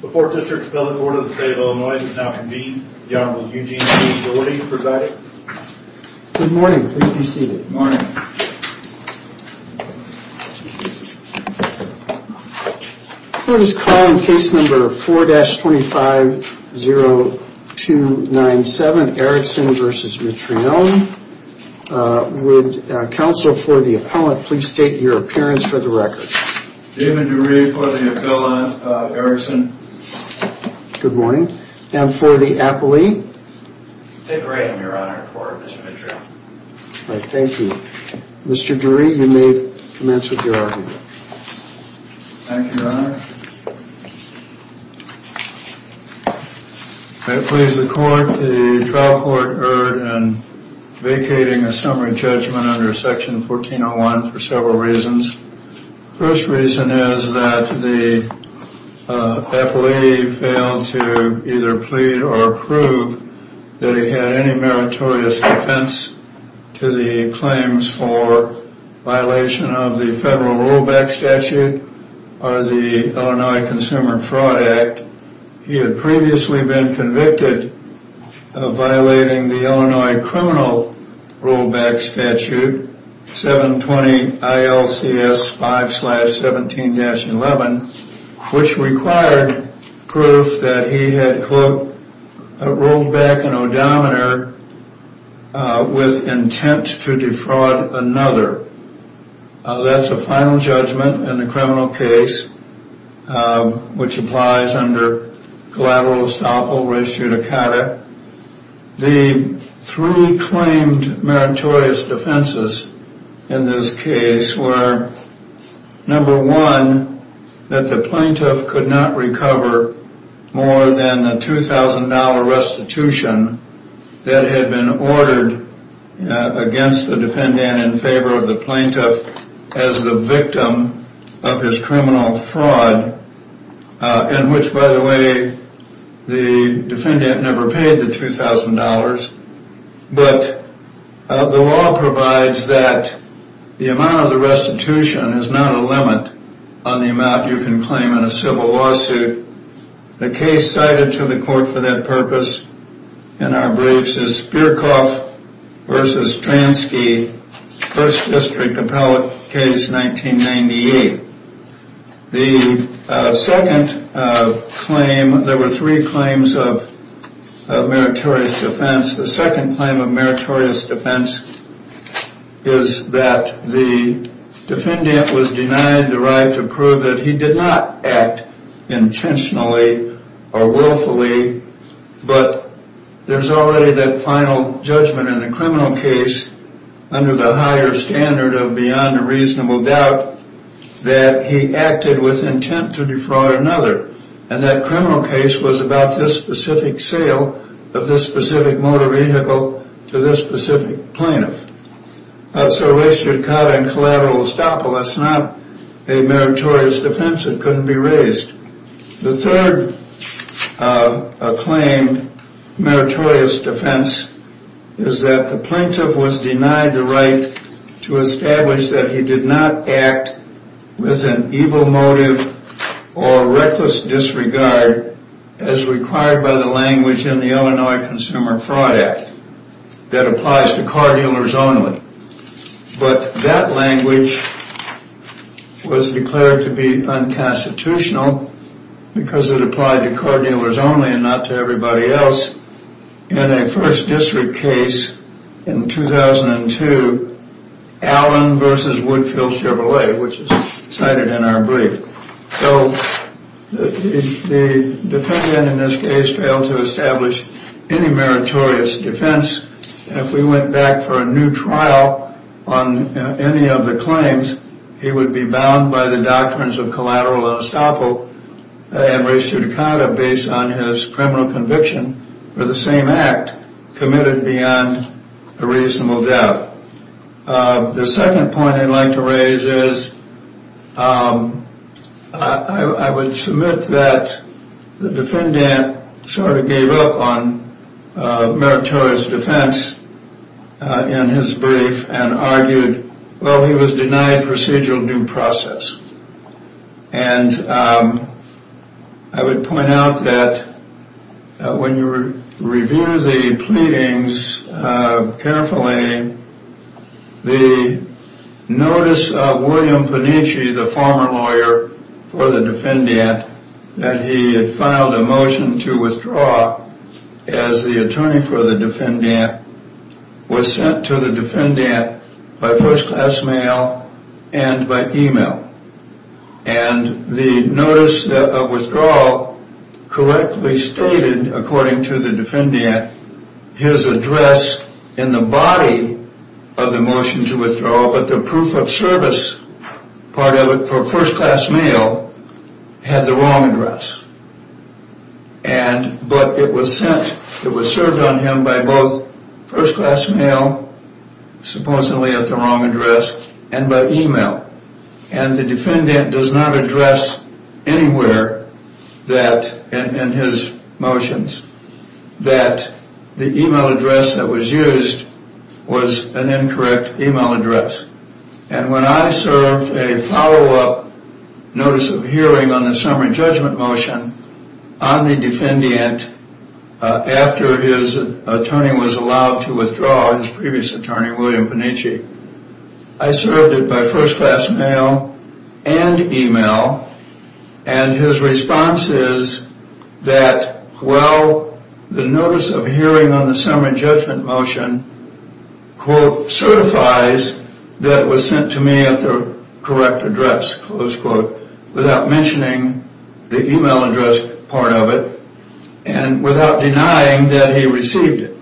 The 4th District Appellate Court of the State of Illinois does now convene. The Honorable Eugene T. Dougherty presiding. Good morning. Please be seated. Good morning. Court is calling case number 4-250297 Erickson v. Mitrione. Would counsel for the appellant please state your appearance for the record. David Dury for the appellant Erickson. Good morning. And for the appellee? Dick Ray in your honor for Mr. Mitrione. Thank you. Mr. Dury you may commence with your argument. Thank you your honor. I please the court the trial court erred in vacating a summary judgment under section 1401 for several reasons. First reason is that the appellee failed to either plead or prove that he had any meritorious defense to the claims for violation of the federal rollback statute or the Illinois Consumer Fraud Act. Second reason is that he had previously been convicted of violating the Illinois criminal rollback statute 720 ILCS 5-17-11 which required proof that he had quote rolled back an odometer with intent to defraud another. That's a final judgment in the criminal case which applies under collateral estoppel res judicata. The three claimed meritorious defenses in this case were number one that the plaintiff could not recover more than a $2,000 restitution that had been ordered against the defendant in favor of the plaintiff as the victim of his criminal fraud. In which by the way the defendant never paid the $2,000 but the law provides that the amount of the restitution is not a limit on the amount you can claim in a civil lawsuit. The case cited to the court for that purpose in our briefs is Spierkhoff v. Transke First District Appellate case 1998. The second claim of meritorious defense is that the defendant was denied the right to prove that he did not act intentionally or willfully. But there's already that final judgment in a criminal case under the higher standard of beyond a reasonable doubt that he acted with intent to defraud another. And that criminal case was about this specific sale of this specific motor vehicle to this specific plaintiff. That's a rest judicata in collateral estoppel that's not a meritorious defense that couldn't be raised. The third claim of meritorious defense is that the plaintiff was denied the right to establish that he did not act with an evil motive or reckless disregard as required by the language in the Illinois Consumer Fraud Act. That applies to car dealers only. But that language was declared to be unconstitutional because it applied to car dealers only and not to everybody else in a first district case in 2002 Allen v. Woodfield Chevrolet which is cited in our brief. So the defendant in this case failed to establish any meritorious defense. If we went back for a new trial on any of the claims he would be bound by the doctrines of collateral estoppel and rest judicata based on his criminal conviction for the same act committed beyond a reasonable doubt. The second point I'd like to raise is I would submit that the defendant sort of gave up on meritorious defense in his brief and argued well he was denied procedural due process. And I would point out that when you review the pleadings carefully the notice of William Panitchi the former lawyer for the defendant that he had filed a motion to withdraw as the attorney for the defendant was sent to the defendant by first class mail and by email. And the notice of withdrawal correctly stated according to the defendant his address in the body of the motion to withdraw but the proof of service part of it for first class mail had the wrong address. And but it was sent it was served on him by both first class mail supposedly at the wrong address and by email and the defendant does not address anywhere that in his motions that the email address that was used was an incorrect email address. And when I served a follow up notice of hearing on the summary judgment motion on the defendant after his attorney was allowed to withdraw his previous attorney William Panitchi. I served it by first class mail and email and his response is that well the notice of hearing on the summary judgment motion quote certifies that was sent to me at the correct address close quote without mentioning the email address part of it and without denying that he received it.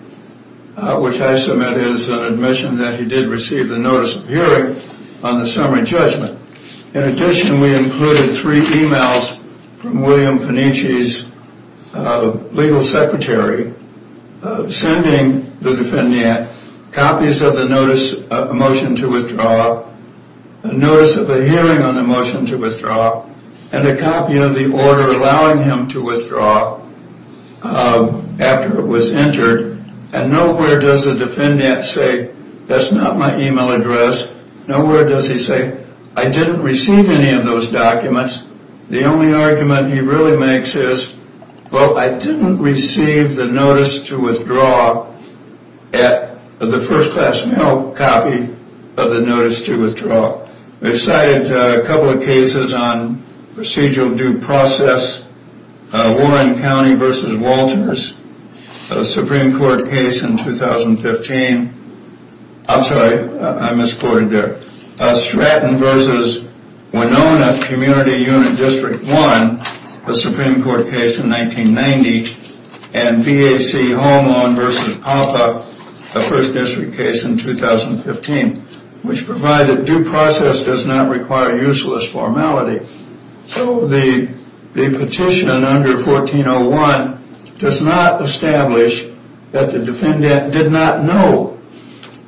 Which I submit is an admission that he did receive the notice of hearing on the summary judgment in addition we included three emails from William Panitchi's legal secretary sending the defendant copies of the notice of motion to withdraw. Notice of a hearing on the motion to withdraw and a copy of the order allowing him to withdraw after it was entered and nowhere does the defendant say that's not my email address nowhere does he say I didn't receive any of those documents. The only argument he really makes is well I didn't receive the notice to withdraw at the first class mail copy of the notice to withdraw. We've cited a couple of cases on procedural due process Warren County v. Walters a Supreme Court case in 2015 I'm sorry I misquoted there Stratton v. Winona Community Unit District 1 a Supreme Court case in 1990 and BAC Homelawn v. Papa a First District case in 2015. Which provided due process does not require useless formality so the petition under 1401 does not establish that the defendant did not know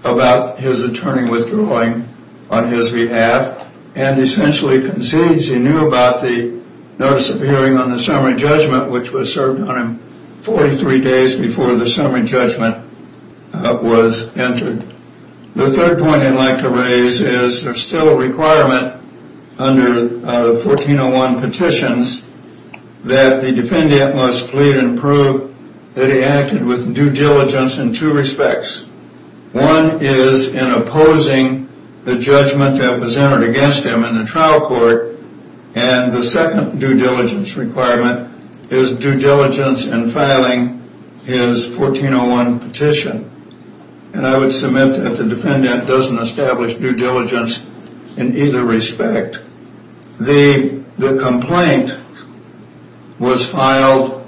about his attorney withdrawing on his behalf and essentially concedes he knew about the notice of hearing on the summary judgment which was served on him 43 days before the summary judgment was entered. The third point I'd like to raise is there's still a requirement under 1401 petitions that the defendant must plead and prove that he acted with due diligence in two respects one is in opposing the judgment that was entered against him in the trial court and the second due diligence requirement is due diligence in filing his 1401 petition. And I would submit that the defendant doesn't establish due diligence in either respect the complaint was filed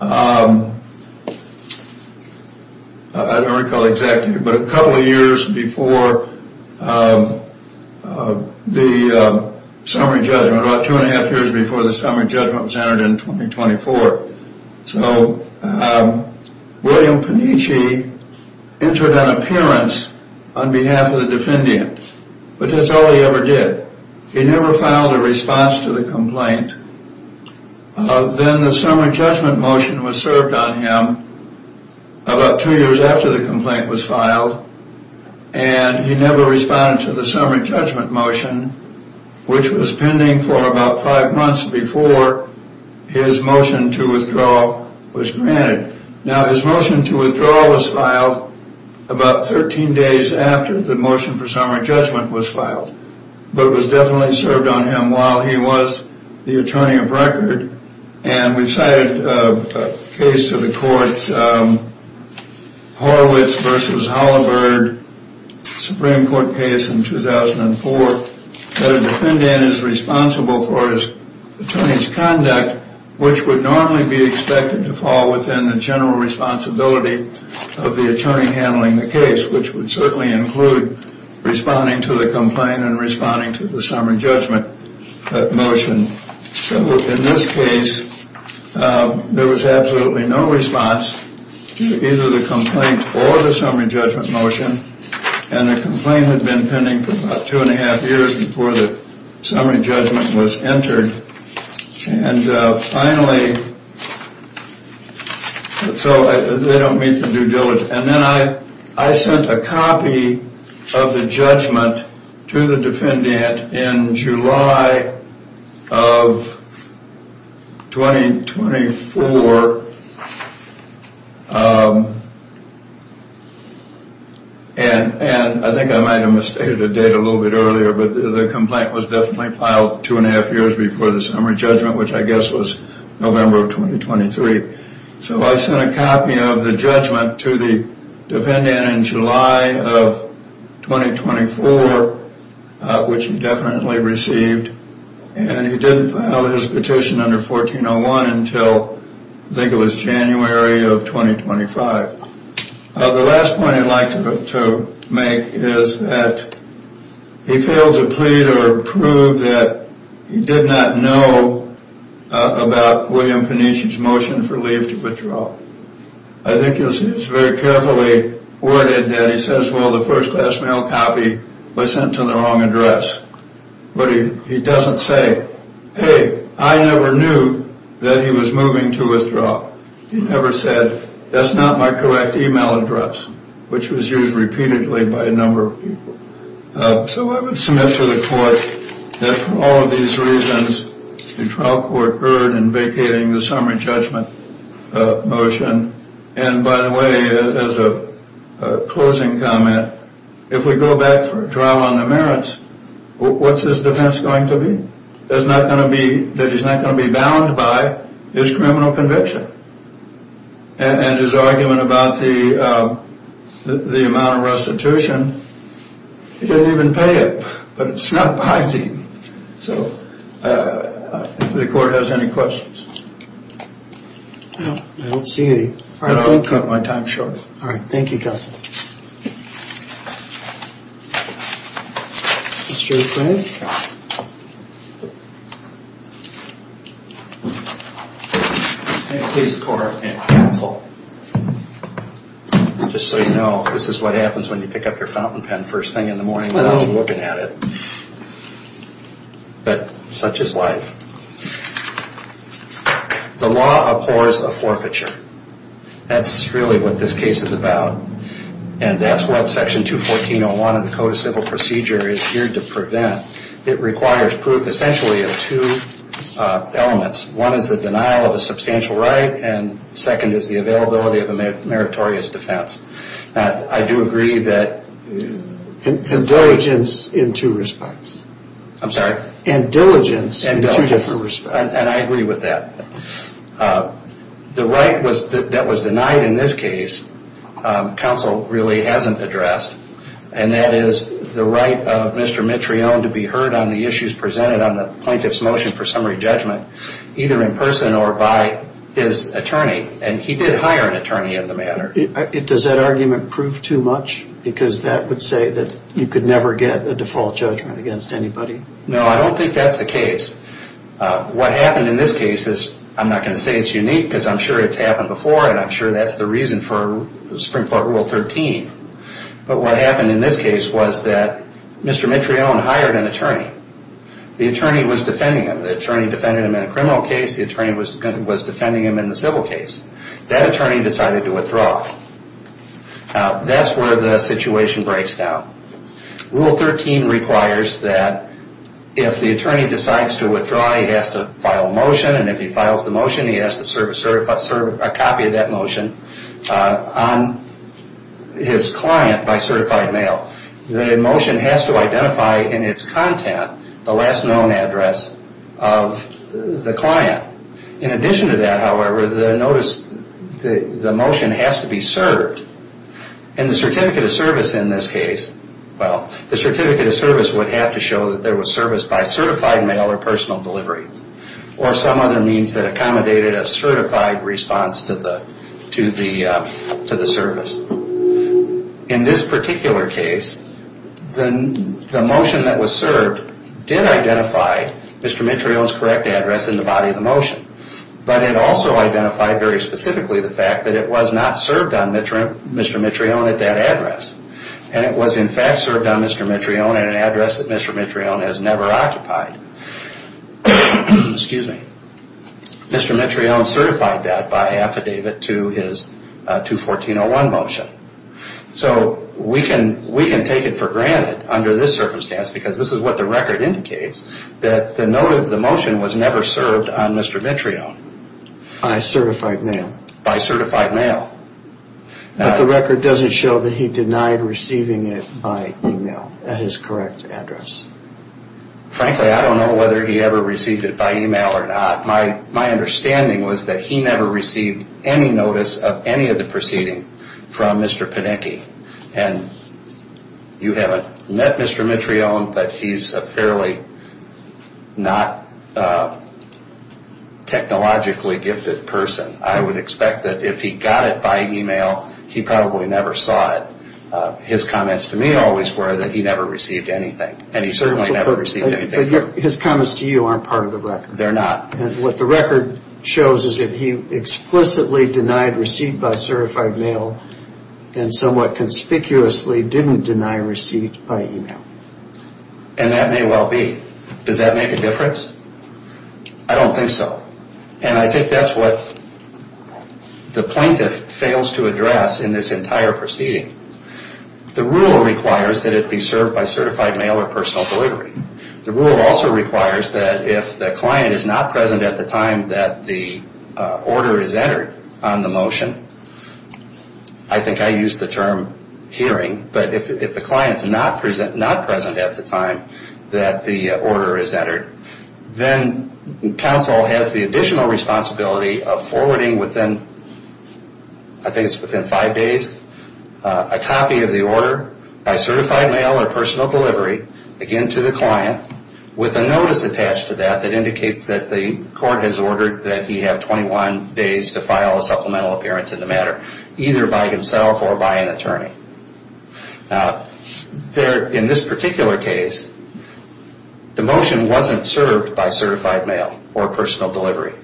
I don't recall exactly but a couple of years before the summary judgment about two and a half years before the summary judgment was entered in 2024. So William Peniche entered an appearance on behalf of the defendant but that's all he ever did he never filed a response to the complaint then the summary judgment motion was served on him about two years after the complaint was filed and he never responded to the summary judgment motion which was pending for about five months before his motion to withdraw. Now his motion to withdraw was filed about 13 days after the motion for summary judgment was filed but was definitely served on him while he was the attorney of record and we've cited a case to the court Horowitz v. Holabird Supreme Court case in 2004 that a defendant is responsible for his attorney's conduct which would normally go to the Supreme Court. And he would be expected to fall within the general responsibility of the attorney handling the case which would certainly include responding to the complaint and responding to the summary judgment motion. So in this case there was absolutely no response to either the complaint or the summary judgment motion and the complaint had been pending for about two and a half years before the summary judgment was entered. And then I sent a copy of the judgment to the defendant in July of 2024 and I think I might have misstated a date a little bit earlier but the complaint was definitely filed two and a half years before the summary judgment motion was filed. So I sent a copy of the judgment to the defendant in July of 2024 which he definitely received and he didn't file his petition under 1401 until I think it was January of 2025. The last point I'd like to make is that he failed to plead or prove that he did not know about William Peniche's motion for leave to withdraw. I think you'll see it's very carefully worded that he says well the first class mail copy was sent to the wrong address. But he doesn't say hey I never knew that he was moving to withdraw. He never said that's not my correct email address which was used repeatedly by a number of people. So I would submit to the court that for all of these reasons the trial court erred in vacating the summary judgment motion. And by the way as a closing comment if we go back for trial on the merits what's his defense going to be? That he's not going to be bound by his criminal conviction and his argument about the amount of restitution. He didn't even pay it but it's not binding. So if the court has any questions. I don't see any. I don't want to cut my time short. Thank you counsel. Mr. Peniche. Please court counsel just so you know this is what happens when you pick up your fountain pen first thing in the morning without looking at it. But such is life. The law abhors a forfeiture. That's really what this case is about. And that's what section 214.01 of the Code of Civil Procedure is here to prevent. It requires proof essentially of two elements. One is the denial of a substantial right and second is the availability of a meritorious defense. I do agree that. Indulgence in two respects. I'm sorry. Indulgence in two different respects. And I agree with that. The right that was denied in this case counsel really hasn't addressed. And that is the right of Mr. Mitrione to be heard on the issues presented on the plaintiff's motion for summary judgment either in person or by his attorney. And he did hire an attorney in the matter. Does that argument prove too much? Because that would say that you could never get a default judgment against anybody. No I don't think that's the case. What happened in this case is I'm not going to say it's unique because I'm sure it's happened before and I'm sure that's the reason for Supreme Court Rule 13. But what happened in this case was that Mr. Mitrione hired an attorney. The attorney was defending him. The attorney defended him in a criminal case. The attorney was defending him in a civil case. That attorney decided to withdraw. That's where the situation breaks down. Rule 13 requires that if the attorney decides to withdraw he has to file a motion and if he files the motion he has to serve a copy of that motion on his client by certified mail. The motion has to identify in its content the last known address of the client. In addition to that, however, the motion has to be served and the certificate of service in this case, well, the certificate of service would have to show that there was service by certified mail or personal delivery or some other means that accommodated a certified response to the service. In this particular case, the motion that was served did identify Mr. Mitrione's correct address in the body of the motion. But it also identified very specifically the fact that it was not served on Mr. Mitrione at that address. And it was in fact served on Mr. Mitrione at an address that Mr. Mitrione has never occupied. Excuse me. Mr. Mitrione certified that by affidavit to his 214-01 motion. So we can take it for granted under this circumstance because this is what the record indicates that the motion was never served on Mr. Mitrione. By certified mail. By certified mail. But the record doesn't show that he denied receiving it by email at his correct address. Frankly, I don't know whether he ever received it by email or not. My understanding was that he never received any notice of any of the proceeding from Mr. Panicki. And you haven't met Mr. Mitrione, but he's a fairly not technologically gifted person. I would expect that if he got it by email, he probably never saw it. His comments to me always were that he never received anything. And he certainly never received anything from him. But his comments to you aren't part of the record. They're not. What the record shows is that he explicitly denied receipt by certified mail and somewhat conspicuously didn't deny receipt by email. And that may well be. Does that make a difference? I don't think so. And I think that's what the plaintiff fails to address in this entire proceeding. The rule requires that it be served by certified mail or personal delivery. The rule also requires that if the client is not present at the time that the order is entered on the motion, I think I used the term hearing, but if the client is not present at the time that the order is entered, then counsel has the additional responsibility of forwarding within, I think it's within five days, a copy of the order by certified mail or personal delivery, again to the client. With a notice attached to that that indicates that the court has ordered that he have 21 days to file a supplemental appearance in the matter, either by himself or by an attorney. Now, in this particular case, the motion wasn't served by certified mail or personal delivery.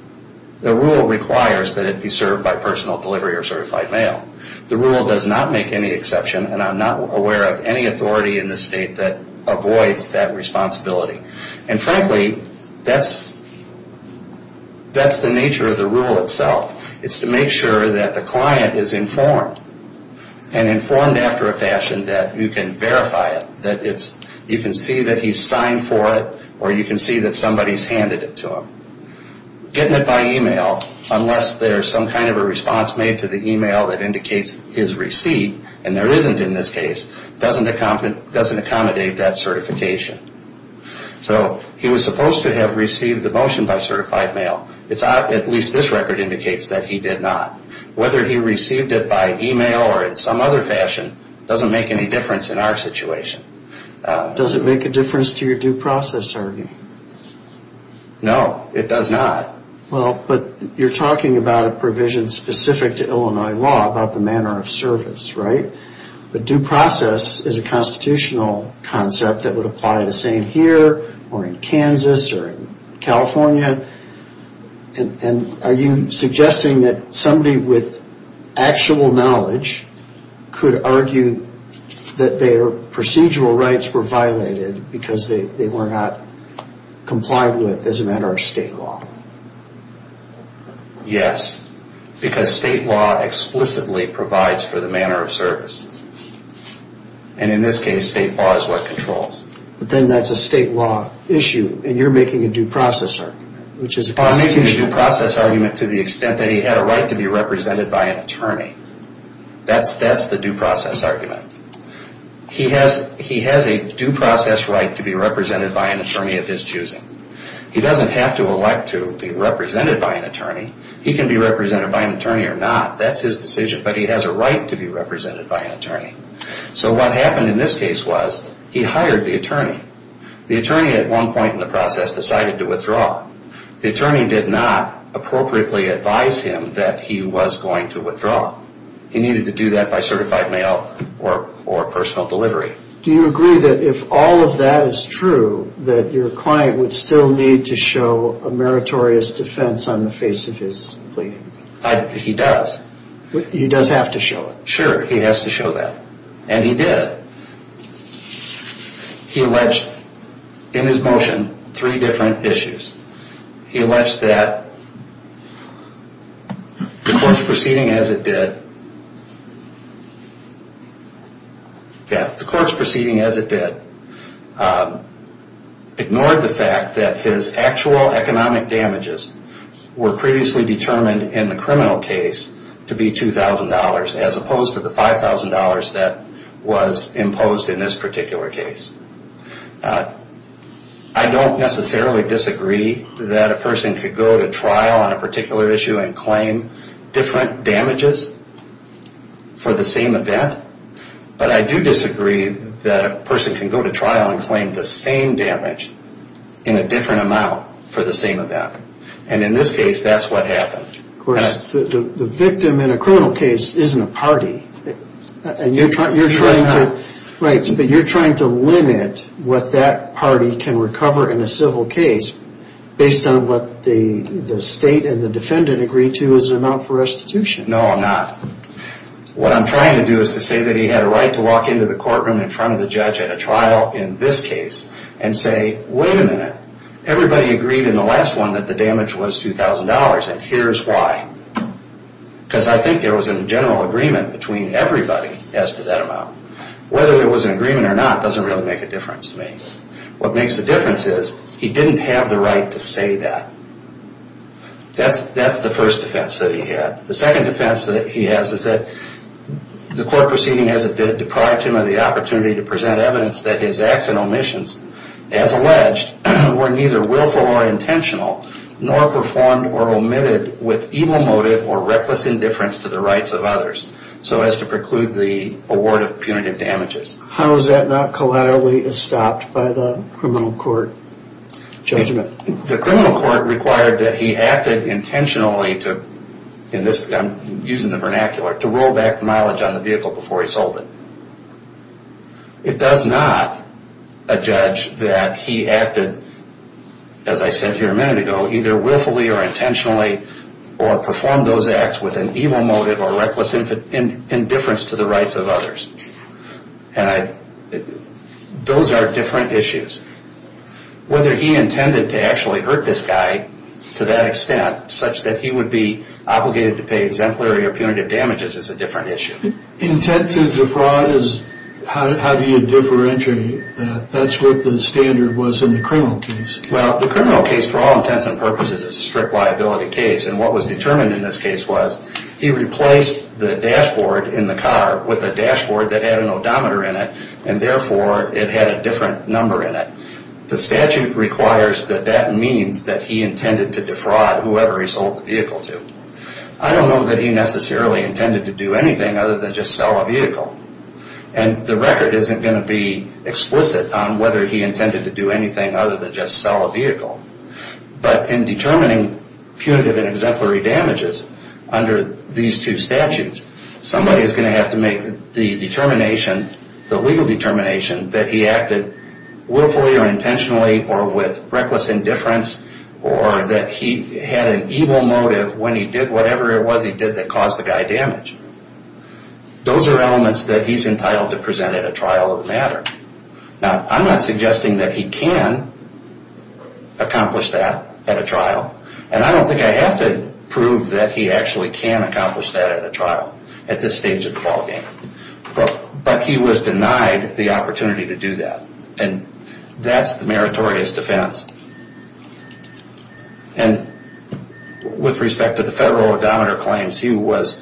The rule requires that it be served by personal delivery or certified mail. The rule does not make any exception, and I'm not aware of any authority in the state that avoids that responsibility. And frankly, that's the nature of the rule itself. It's to make sure that the client is informed and informed after a fashion that you can verify it, that you can see that he's signed for it or you can see that somebody's handed it to him. Getting it by email, unless there's some kind of a response made to the email that indicates his receipt, and there isn't in this case, doesn't accommodate that certification. So he was supposed to have received the motion by certified mail. At least this record indicates that he did not. Whether he received it by email or in some other fashion doesn't make any difference in our situation. Does it make a difference to your due process argument? No, it does not. Well, but you're talking about a provision specific to Illinois law about the manner of service, right? But due process is a constitutional concept that would apply the same here or in Kansas or in California. And are you suggesting that somebody with actual knowledge could argue that their procedural rights were violated because they were not complied with as a matter of state law? Yes, because state law explicitly provides for the manner of service. And in this case, state law is what controls. But then that's a state law issue, and you're making a due process argument, which is constitutional. I'm making a due process argument to the extent that he had a right to be represented by an attorney. That's the due process argument. He has a due process right to be represented by an attorney of his choosing. He doesn't have to elect to be represented by an attorney. He can be represented by an attorney or not. That's his decision. But he has a right to be represented by an attorney. So what happened in this case was he hired the attorney. The attorney at one point in the process decided to withdraw. The attorney did not appropriately advise him that he was going to withdraw. He needed to do that by certified mail or personal delivery. Do you agree that if all of that is true, that your client would still need to show a meritorious defense on the face of his plea? He does. He does have to show it? Sure. He has to show that. And he did. He alleged in his motion three different issues. He alleged that the court's proceeding as it did ignored the fact that his actual economic damages were previously determined in the criminal case to be $2,000 as opposed to the $5,000 that was imposed in this particular case. I don't necessarily disagree that a person could go to trial on a particular issue and claim different damages for the same event. But I do disagree that a person can go to trial and claim the same damage in a different amount for the same event. And in this case, that's what happened. Of course, the victim in a criminal case isn't a party. And you're trying to limit what that party can recover in a civil case based on what the state and the defendant agree to as an amount for restitution. No, I'm not. What I'm trying to do is to say that he had a right to walk into the courtroom in front of the judge at a trial in this case and say, wait a minute, everybody agreed in the last one that the damage was $2,000 and here's why. Because I think there was a general agreement between everybody as to that amount. Whether there was an agreement or not doesn't really make a difference to me. What makes a difference is he didn't have the right to say that. That's the first defense that he had. The second defense that he has is that the court proceeding as it did deprived him of the opportunity to present evidence that his acts and omissions, as alleged, were neither willful or intentional, nor performed or omitted with evil motive or reckless indifference to the rights of others, so as to preclude the award of punitive damages. How is that not collaterally stopped by the criminal court judgment? The criminal court required that he acted intentionally to, I'm using the vernacular, to roll back the mileage on the vehicle before he sold it. It does not adjudge that he acted, as I said here a minute ago, either willfully or intentionally or performed those acts with an evil motive or reckless indifference to the rights of others. Those are different issues. Whether he intended to actually hurt this guy to that extent, such that he would be obligated to pay exemplary or punitive damages, is a different issue. Intent to defraud, how do you differentiate that? That's what the standard was in the criminal case. Well, the criminal case, for all intents and purposes, is a strict liability case, and what was determined in this case was he replaced the dashboard in the car with a dashboard that had an odometer in it, and therefore it had a different number in it. The statute requires that that means that he intended to defraud whoever he sold the vehicle to. I don't know that he necessarily intended to do anything other than just sell a vehicle, and the record isn't going to be explicit on whether he intended to do anything other than just sell a vehicle. But in determining punitive and exemplary damages under these two statutes, somebody is going to have to make the determination, the legal determination, that he acted willfully or intentionally or with reckless indifference, or that he had an evil motive when he did whatever it was he did that caused the guy damage. Those are elements that he's entitled to present at a trial of the matter. Now, I'm not suggesting that he can accomplish that at a trial, and I don't think I have to prove that he actually can accomplish that at a trial at this stage of the ballgame. But he was denied the opportunity to do that, and that's the meritorious defense. And with respect to the federal odometer claims, he was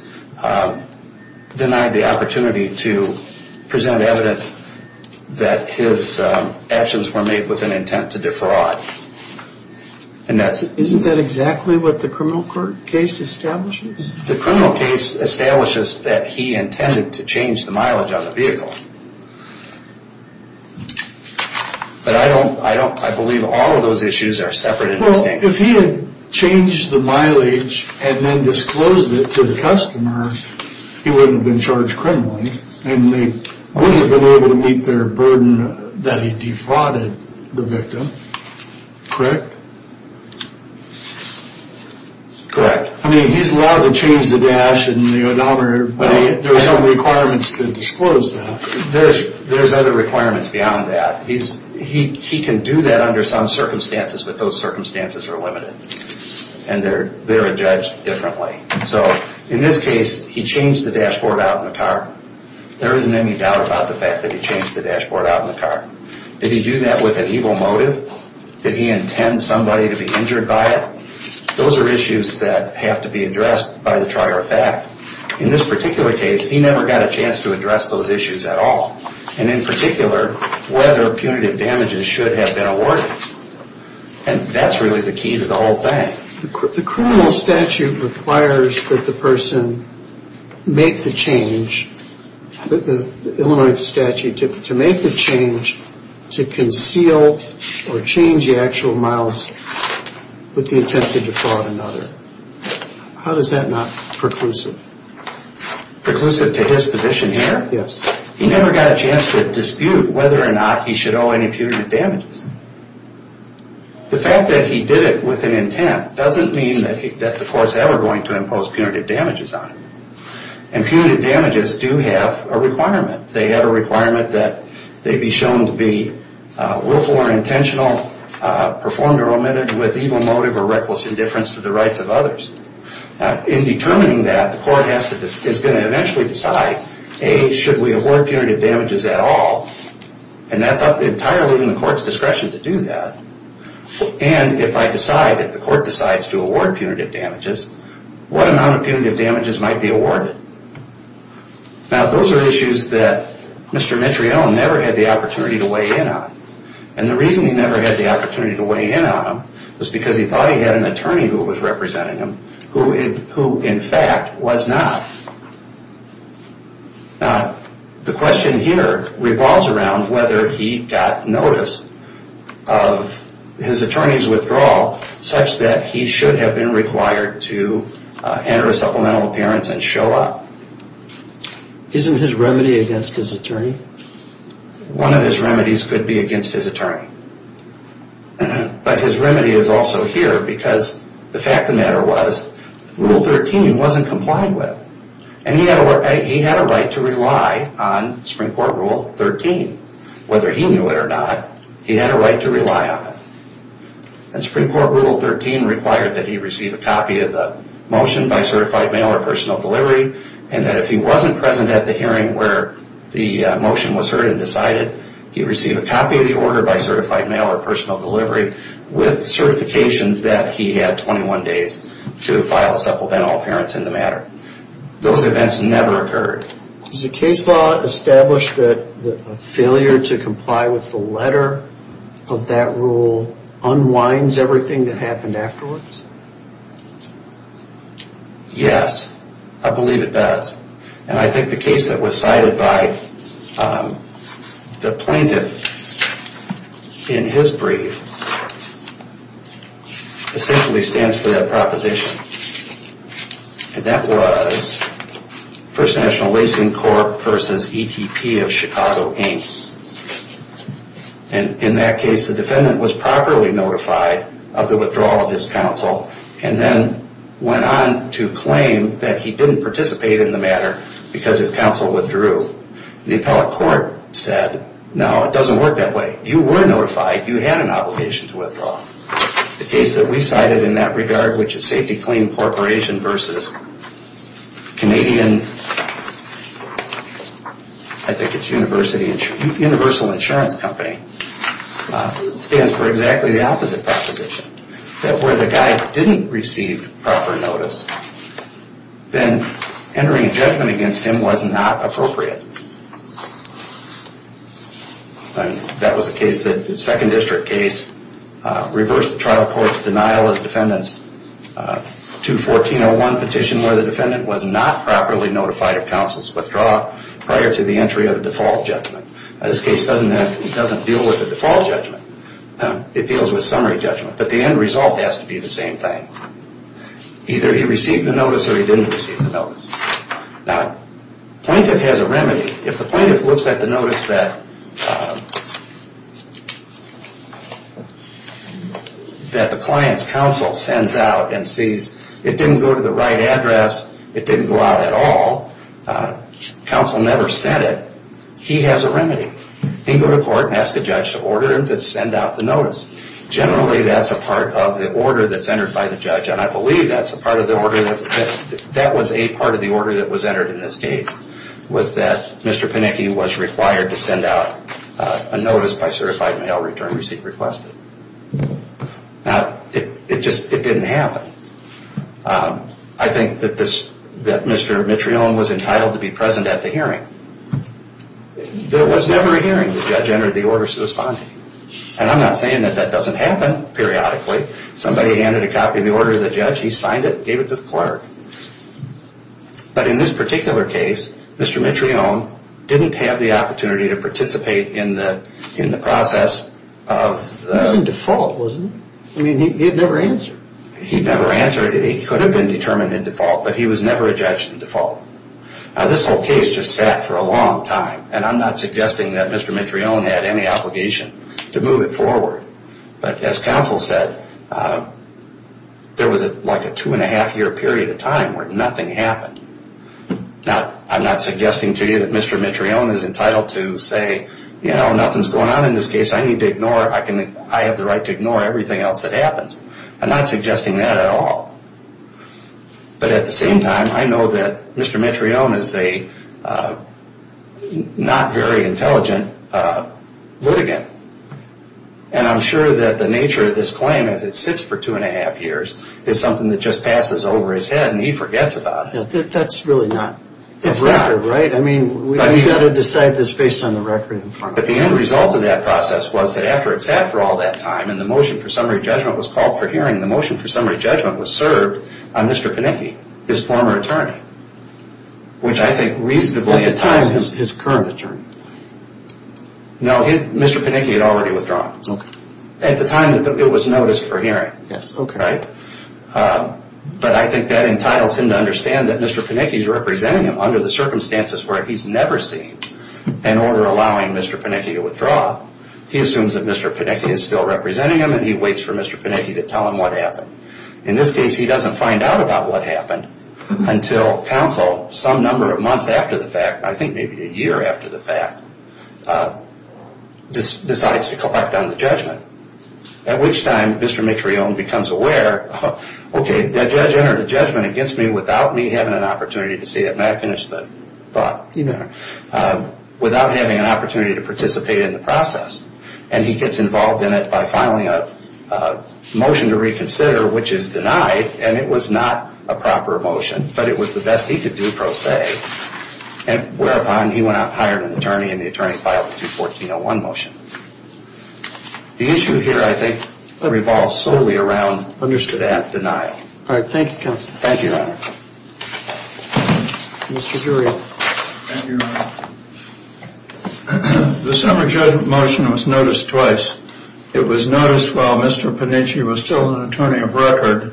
denied the opportunity to present evidence that his actions were made with an intent to defraud. Isn't that exactly what the criminal court case establishes? The criminal case establishes that he intended to change the mileage on the vehicle. But I believe all of those issues are separate and distinct. Well, if he had changed the mileage and then disclosed it to the customer, he wouldn't have been charged criminally, and they wouldn't have been able to meet their burden that he defrauded the victim, correct? Correct. I mean, he's allowed to change the dash and the odometer, but there are some requirements to disclose that. There's other requirements beyond that. He can do that under some circumstances, but those circumstances are limited, and they're judged differently. So in this case, he changed the dashboard out in the car. There isn't any doubt about the fact that he changed the dashboard out in the car. Did he do that with an evil motive? Did he intend somebody to be injured by it? Those are issues that have to be addressed by the trier of fact. In this particular case, he never got a chance to address those issues at all, and in particular, whether punitive damages should have been awarded. And that's really the key to the whole thing. The criminal statute requires that the person make the change, the Illinois statute to make the change to conceal or change the actual miles with the intent to defraud another. How does that not preclusive? Preclusive to his position here? Yes. He never got a chance to dispute whether or not he should owe any punitive damages. The fact that he did it with an intent doesn't mean that the court's ever going to impose punitive damages on him. And punitive damages do have a requirement. They have a requirement that they be shown to be willful or intentional, performed or omitted with evil motive or reckless indifference to the rights of others. In determining that, the court is going to eventually decide, A, should we award punitive damages at all? And that's up entirely in the court's discretion to do that. And if I decide, if the court decides to award punitive damages, what amount of punitive damages might be awarded? Now, those are issues that Mr. Mitriell never had the opportunity to weigh in on. And the reason he never had the opportunity to weigh in on them was because he thought he had an attorney who was representing him who, in fact, was not. Now, the question here revolves around whether he got notice of his attorney's withdrawal such that he should have been required to enter a supplemental appearance and show up. Isn't his remedy against his attorney? One of his remedies could be against his attorney. But his remedy is also here because the fact of the matter was, Rule 13 wasn't complied with. And he had a right to rely on Supreme Court Rule 13. Whether he knew it or not, he had a right to rely on it. And Supreme Court Rule 13 required that he receive a copy of the motion by certified mail or personal delivery, and that if he wasn't present at the hearing where the motion was heard and decided, he receive a copy of the order by certified mail or personal delivery with certification that he had 21 days to file a supplemental appearance in the matter. Those events never occurred. Does the case law establish that a failure to comply with the letter of that rule unwinds everything that happened afterwards? Yes, I believe it does. And I think the case that was cited by the plaintiff in his brief essentially stands for that proposition. And that was First National Lacing Corp. v. ETP of Chicago, Inc. And in that case, the defendant was properly notified of the withdrawal of his counsel and then went on to claim that he didn't participate in the matter because his counsel withdrew. The appellate court said, no, it doesn't work that way. You were notified. You had an obligation to withdraw. The case that we cited in that regard, which is Safety Claim Corporation v. Canadian, I think it's Universal Insurance Company, stands for exactly the opposite proposition. That where the guy didn't receive proper notice, then entering a judgment against him was not appropriate. That was the case, the Second District case, reversed the trial court's denial of the defendant's 214.01 petition where the defendant was not properly notified of counsel's withdrawal prior to the entry of a default judgment. This case doesn't deal with a default judgment. It deals with summary judgment. But the end result has to be the same thing. Either he received the notice or he didn't receive the notice. Now, the plaintiff has a remedy. If the plaintiff looks at the notice that the client's counsel sends out and sees it didn't go to the right address, it didn't go out at all, counsel never said it, he has a remedy. He can go to court and ask a judge to order him to send out the notice. Generally, that's a part of the order that's entered by the judge, and I believe that was a part of the order that was entered in this case, was that Mr. Panicki was required to send out a notice by certified mail return receipt requested. Now, it just didn't happen. I think that Mr. Mitrione was entitled to be present at the hearing. There was never a hearing. The judge entered the order to respond, and I'm not saying that that doesn't happen periodically. Somebody handed a copy of the order to the judge. He signed it and gave it to the clerk. But in this particular case, Mr. Mitrione didn't have the opportunity to participate in the process. He was in default, wasn't he? I mean, he had never answered. He never answered. He could have been determined in default, but he was never a judge in default. Now, this whole case just sat for a long time, and I'm not suggesting that Mr. Mitrione had any obligation to move it forward. But as counsel said, there was like a two-and-a-half-year period of time where nothing happened. Now, I'm not suggesting to you that Mr. Mitrione is entitled to say, you know, nothing's going on in this case. I need to ignore it. I have the right to ignore everything else that happens. I'm not suggesting that at all. But at the same time, I know that Mr. Mitrione is a not very intelligent litigant. And I'm sure that the nature of this claim, as it sits for two-and-a-half years, is something that just passes over his head and he forgets about it. That's really not a record, right? It's not. I mean, we've got to decide this based on the record. But the end result of that process was that after it sat for all that time and the motion for summary judgment was called for hearing, the motion for summary judgment was served on Mr. Panicki, his former attorney, which I think reasonably entices him. At the time, his current attorney? No, Mr. Panicki had already withdrawn. Okay. At the time, it was noticed for hearing. Yes, okay. Right? But I think that entitles him to understand that Mr. Panicki is representing him under the circumstances where he's never seen an order allowing Mr. Panicki to withdraw. He assumes that Mr. Panicki is still representing him and he waits for Mr. Panicki to tell him what happened. In this case, he doesn't find out about what happened until counsel, some number of months after the fact, I think maybe a year after the fact, decides to collect on the judgment. At which time, Mr. Mitrione becomes aware, okay, that judge entered a judgment against me without me having an opportunity to see it. May I finish the thought? You may. Without having an opportunity to participate in the process. And he gets involved in it by filing a motion to reconsider, which is denied, and it was not a proper motion, but it was the best he could do, per se, and whereupon he went out and hired an attorney and the attorney filed a 214-01 motion. The issue here, I think, revolves solely around that denial. All right. Thank you, counsel. Thank you, Your Honor. Mr. Durian. Thank you, Your Honor. The summer judgment motion was noticed twice. It was noticed while Mr. Panitchi was still an attorney of record,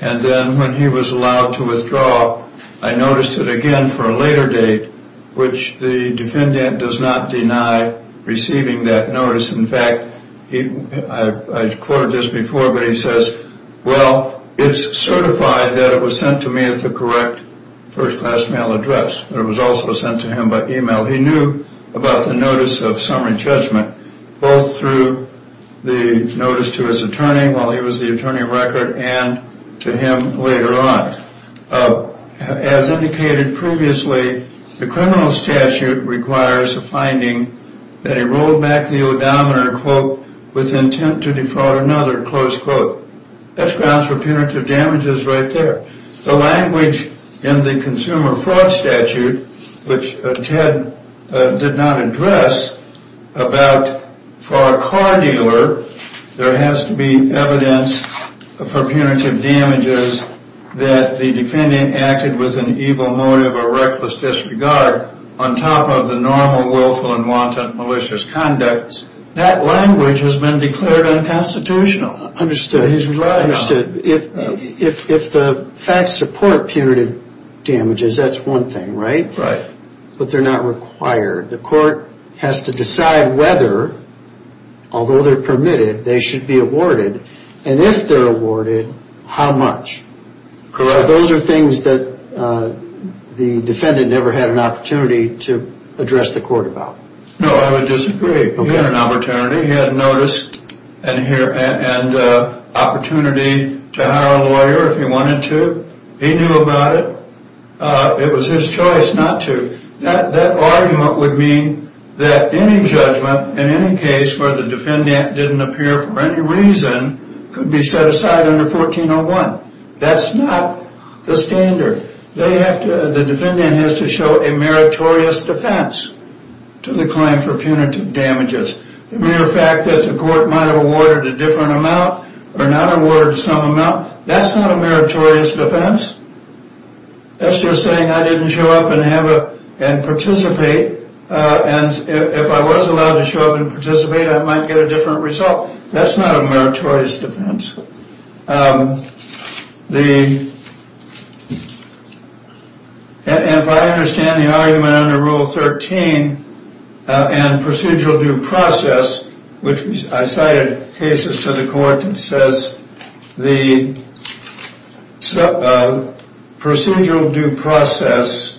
and then when he was allowed to withdraw, I noticed it again for a later date, which the defendant does not deny receiving that notice. In fact, I've quoted this before, but he says, well, it's certified that it was sent to me at the correct first-class mail address, but it was also sent to him by e-mail. He knew about the notice of summer judgment, both through the notice to his attorney while he was the attorney of record and to him later on. As indicated previously, the criminal statute requires a finding that he rolled back the odometer, quote, with intent to defraud another, close quote. That's grounds for punitive damages right there. The language in the consumer fraud statute, which Ted did not address, about for a car dealer there has to be evidence for punitive damages that the defendant acted with an evil motive or reckless disregard on top of the normal willful and wanton malicious conducts, that language has been declared unconstitutional. If the facts support punitive damages, that's one thing, right? But they're not required. The court has to decide whether, although they're permitted, they should be awarded. And if they're awarded, how much? Correct. Those are things that the defendant never had an opportunity to address the court about. No, I would disagree. He had an opportunity. He had notice and opportunity to hire a lawyer if he wanted to. He knew about it. It was his choice not to. That argument would mean that any judgment, in any case where the defendant didn't appear for any reason, could be set aside under 1401. That's not the standard. The defendant has to show a meritorious defense to the claim for punitive damages. The mere fact that the court might have awarded a different amount or not awarded some amount, that's not a meritorious defense. That's just saying I didn't show up and participate. And if I was allowed to show up and participate, I might get a different result. That's not a meritorious defense. And if I understand the argument under Rule 13 and procedural due process, which I cited cases to the court, it says the procedural due process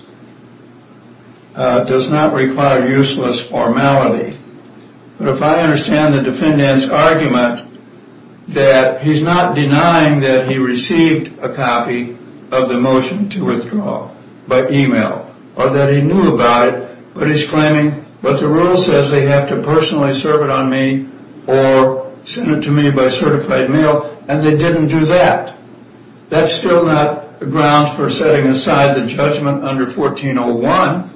does not require useless formality. But if I understand the defendant's argument that he or she has to show up he's not denying that he received a copy of the motion to withdraw by email or that he knew about it, but he's claiming what the rule says, they have to personally serve it on me or send it to me by certified mail, and they didn't do that. That's still not grounds for setting aside the judgment under 1401,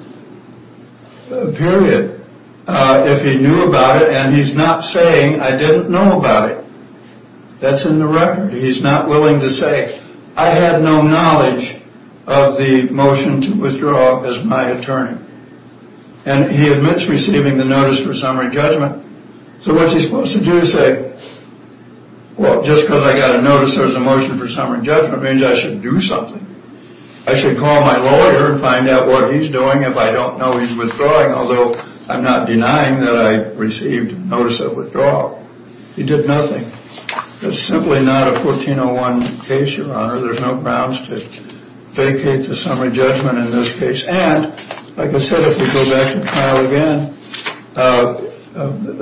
period, if he knew about it and he's not saying I didn't know about it. That's in the record. He's not willing to say I had no knowledge of the motion to withdraw as my attorney. And he admits receiving the notice for summary judgment. So what's he supposed to do? Say, well, just because I got a notice there's a motion for summary judgment means I should do something. I should call my lawyer and find out what he's doing if I don't know he's withdrawing, although I'm not denying that I received a notice of withdrawal. He did nothing. It's simply not a 1401 case, Your Honor. There's no grounds to vacate the summary judgment in this case. And, like I said, if we go back to trial again,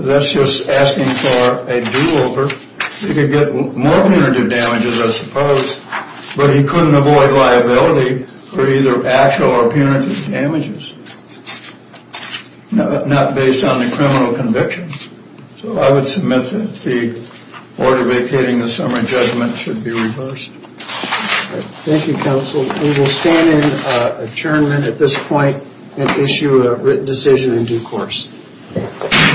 that's just asking for a do-over. He could get more punitive damages, I suppose, but he couldn't avoid liability for either actual or punitive damages, not based on the criminal conviction. So I would submit that the order vacating the summary judgment should be reversed. Thank you, counsel. We will stand in adjournment at this point and issue a written decision in due course.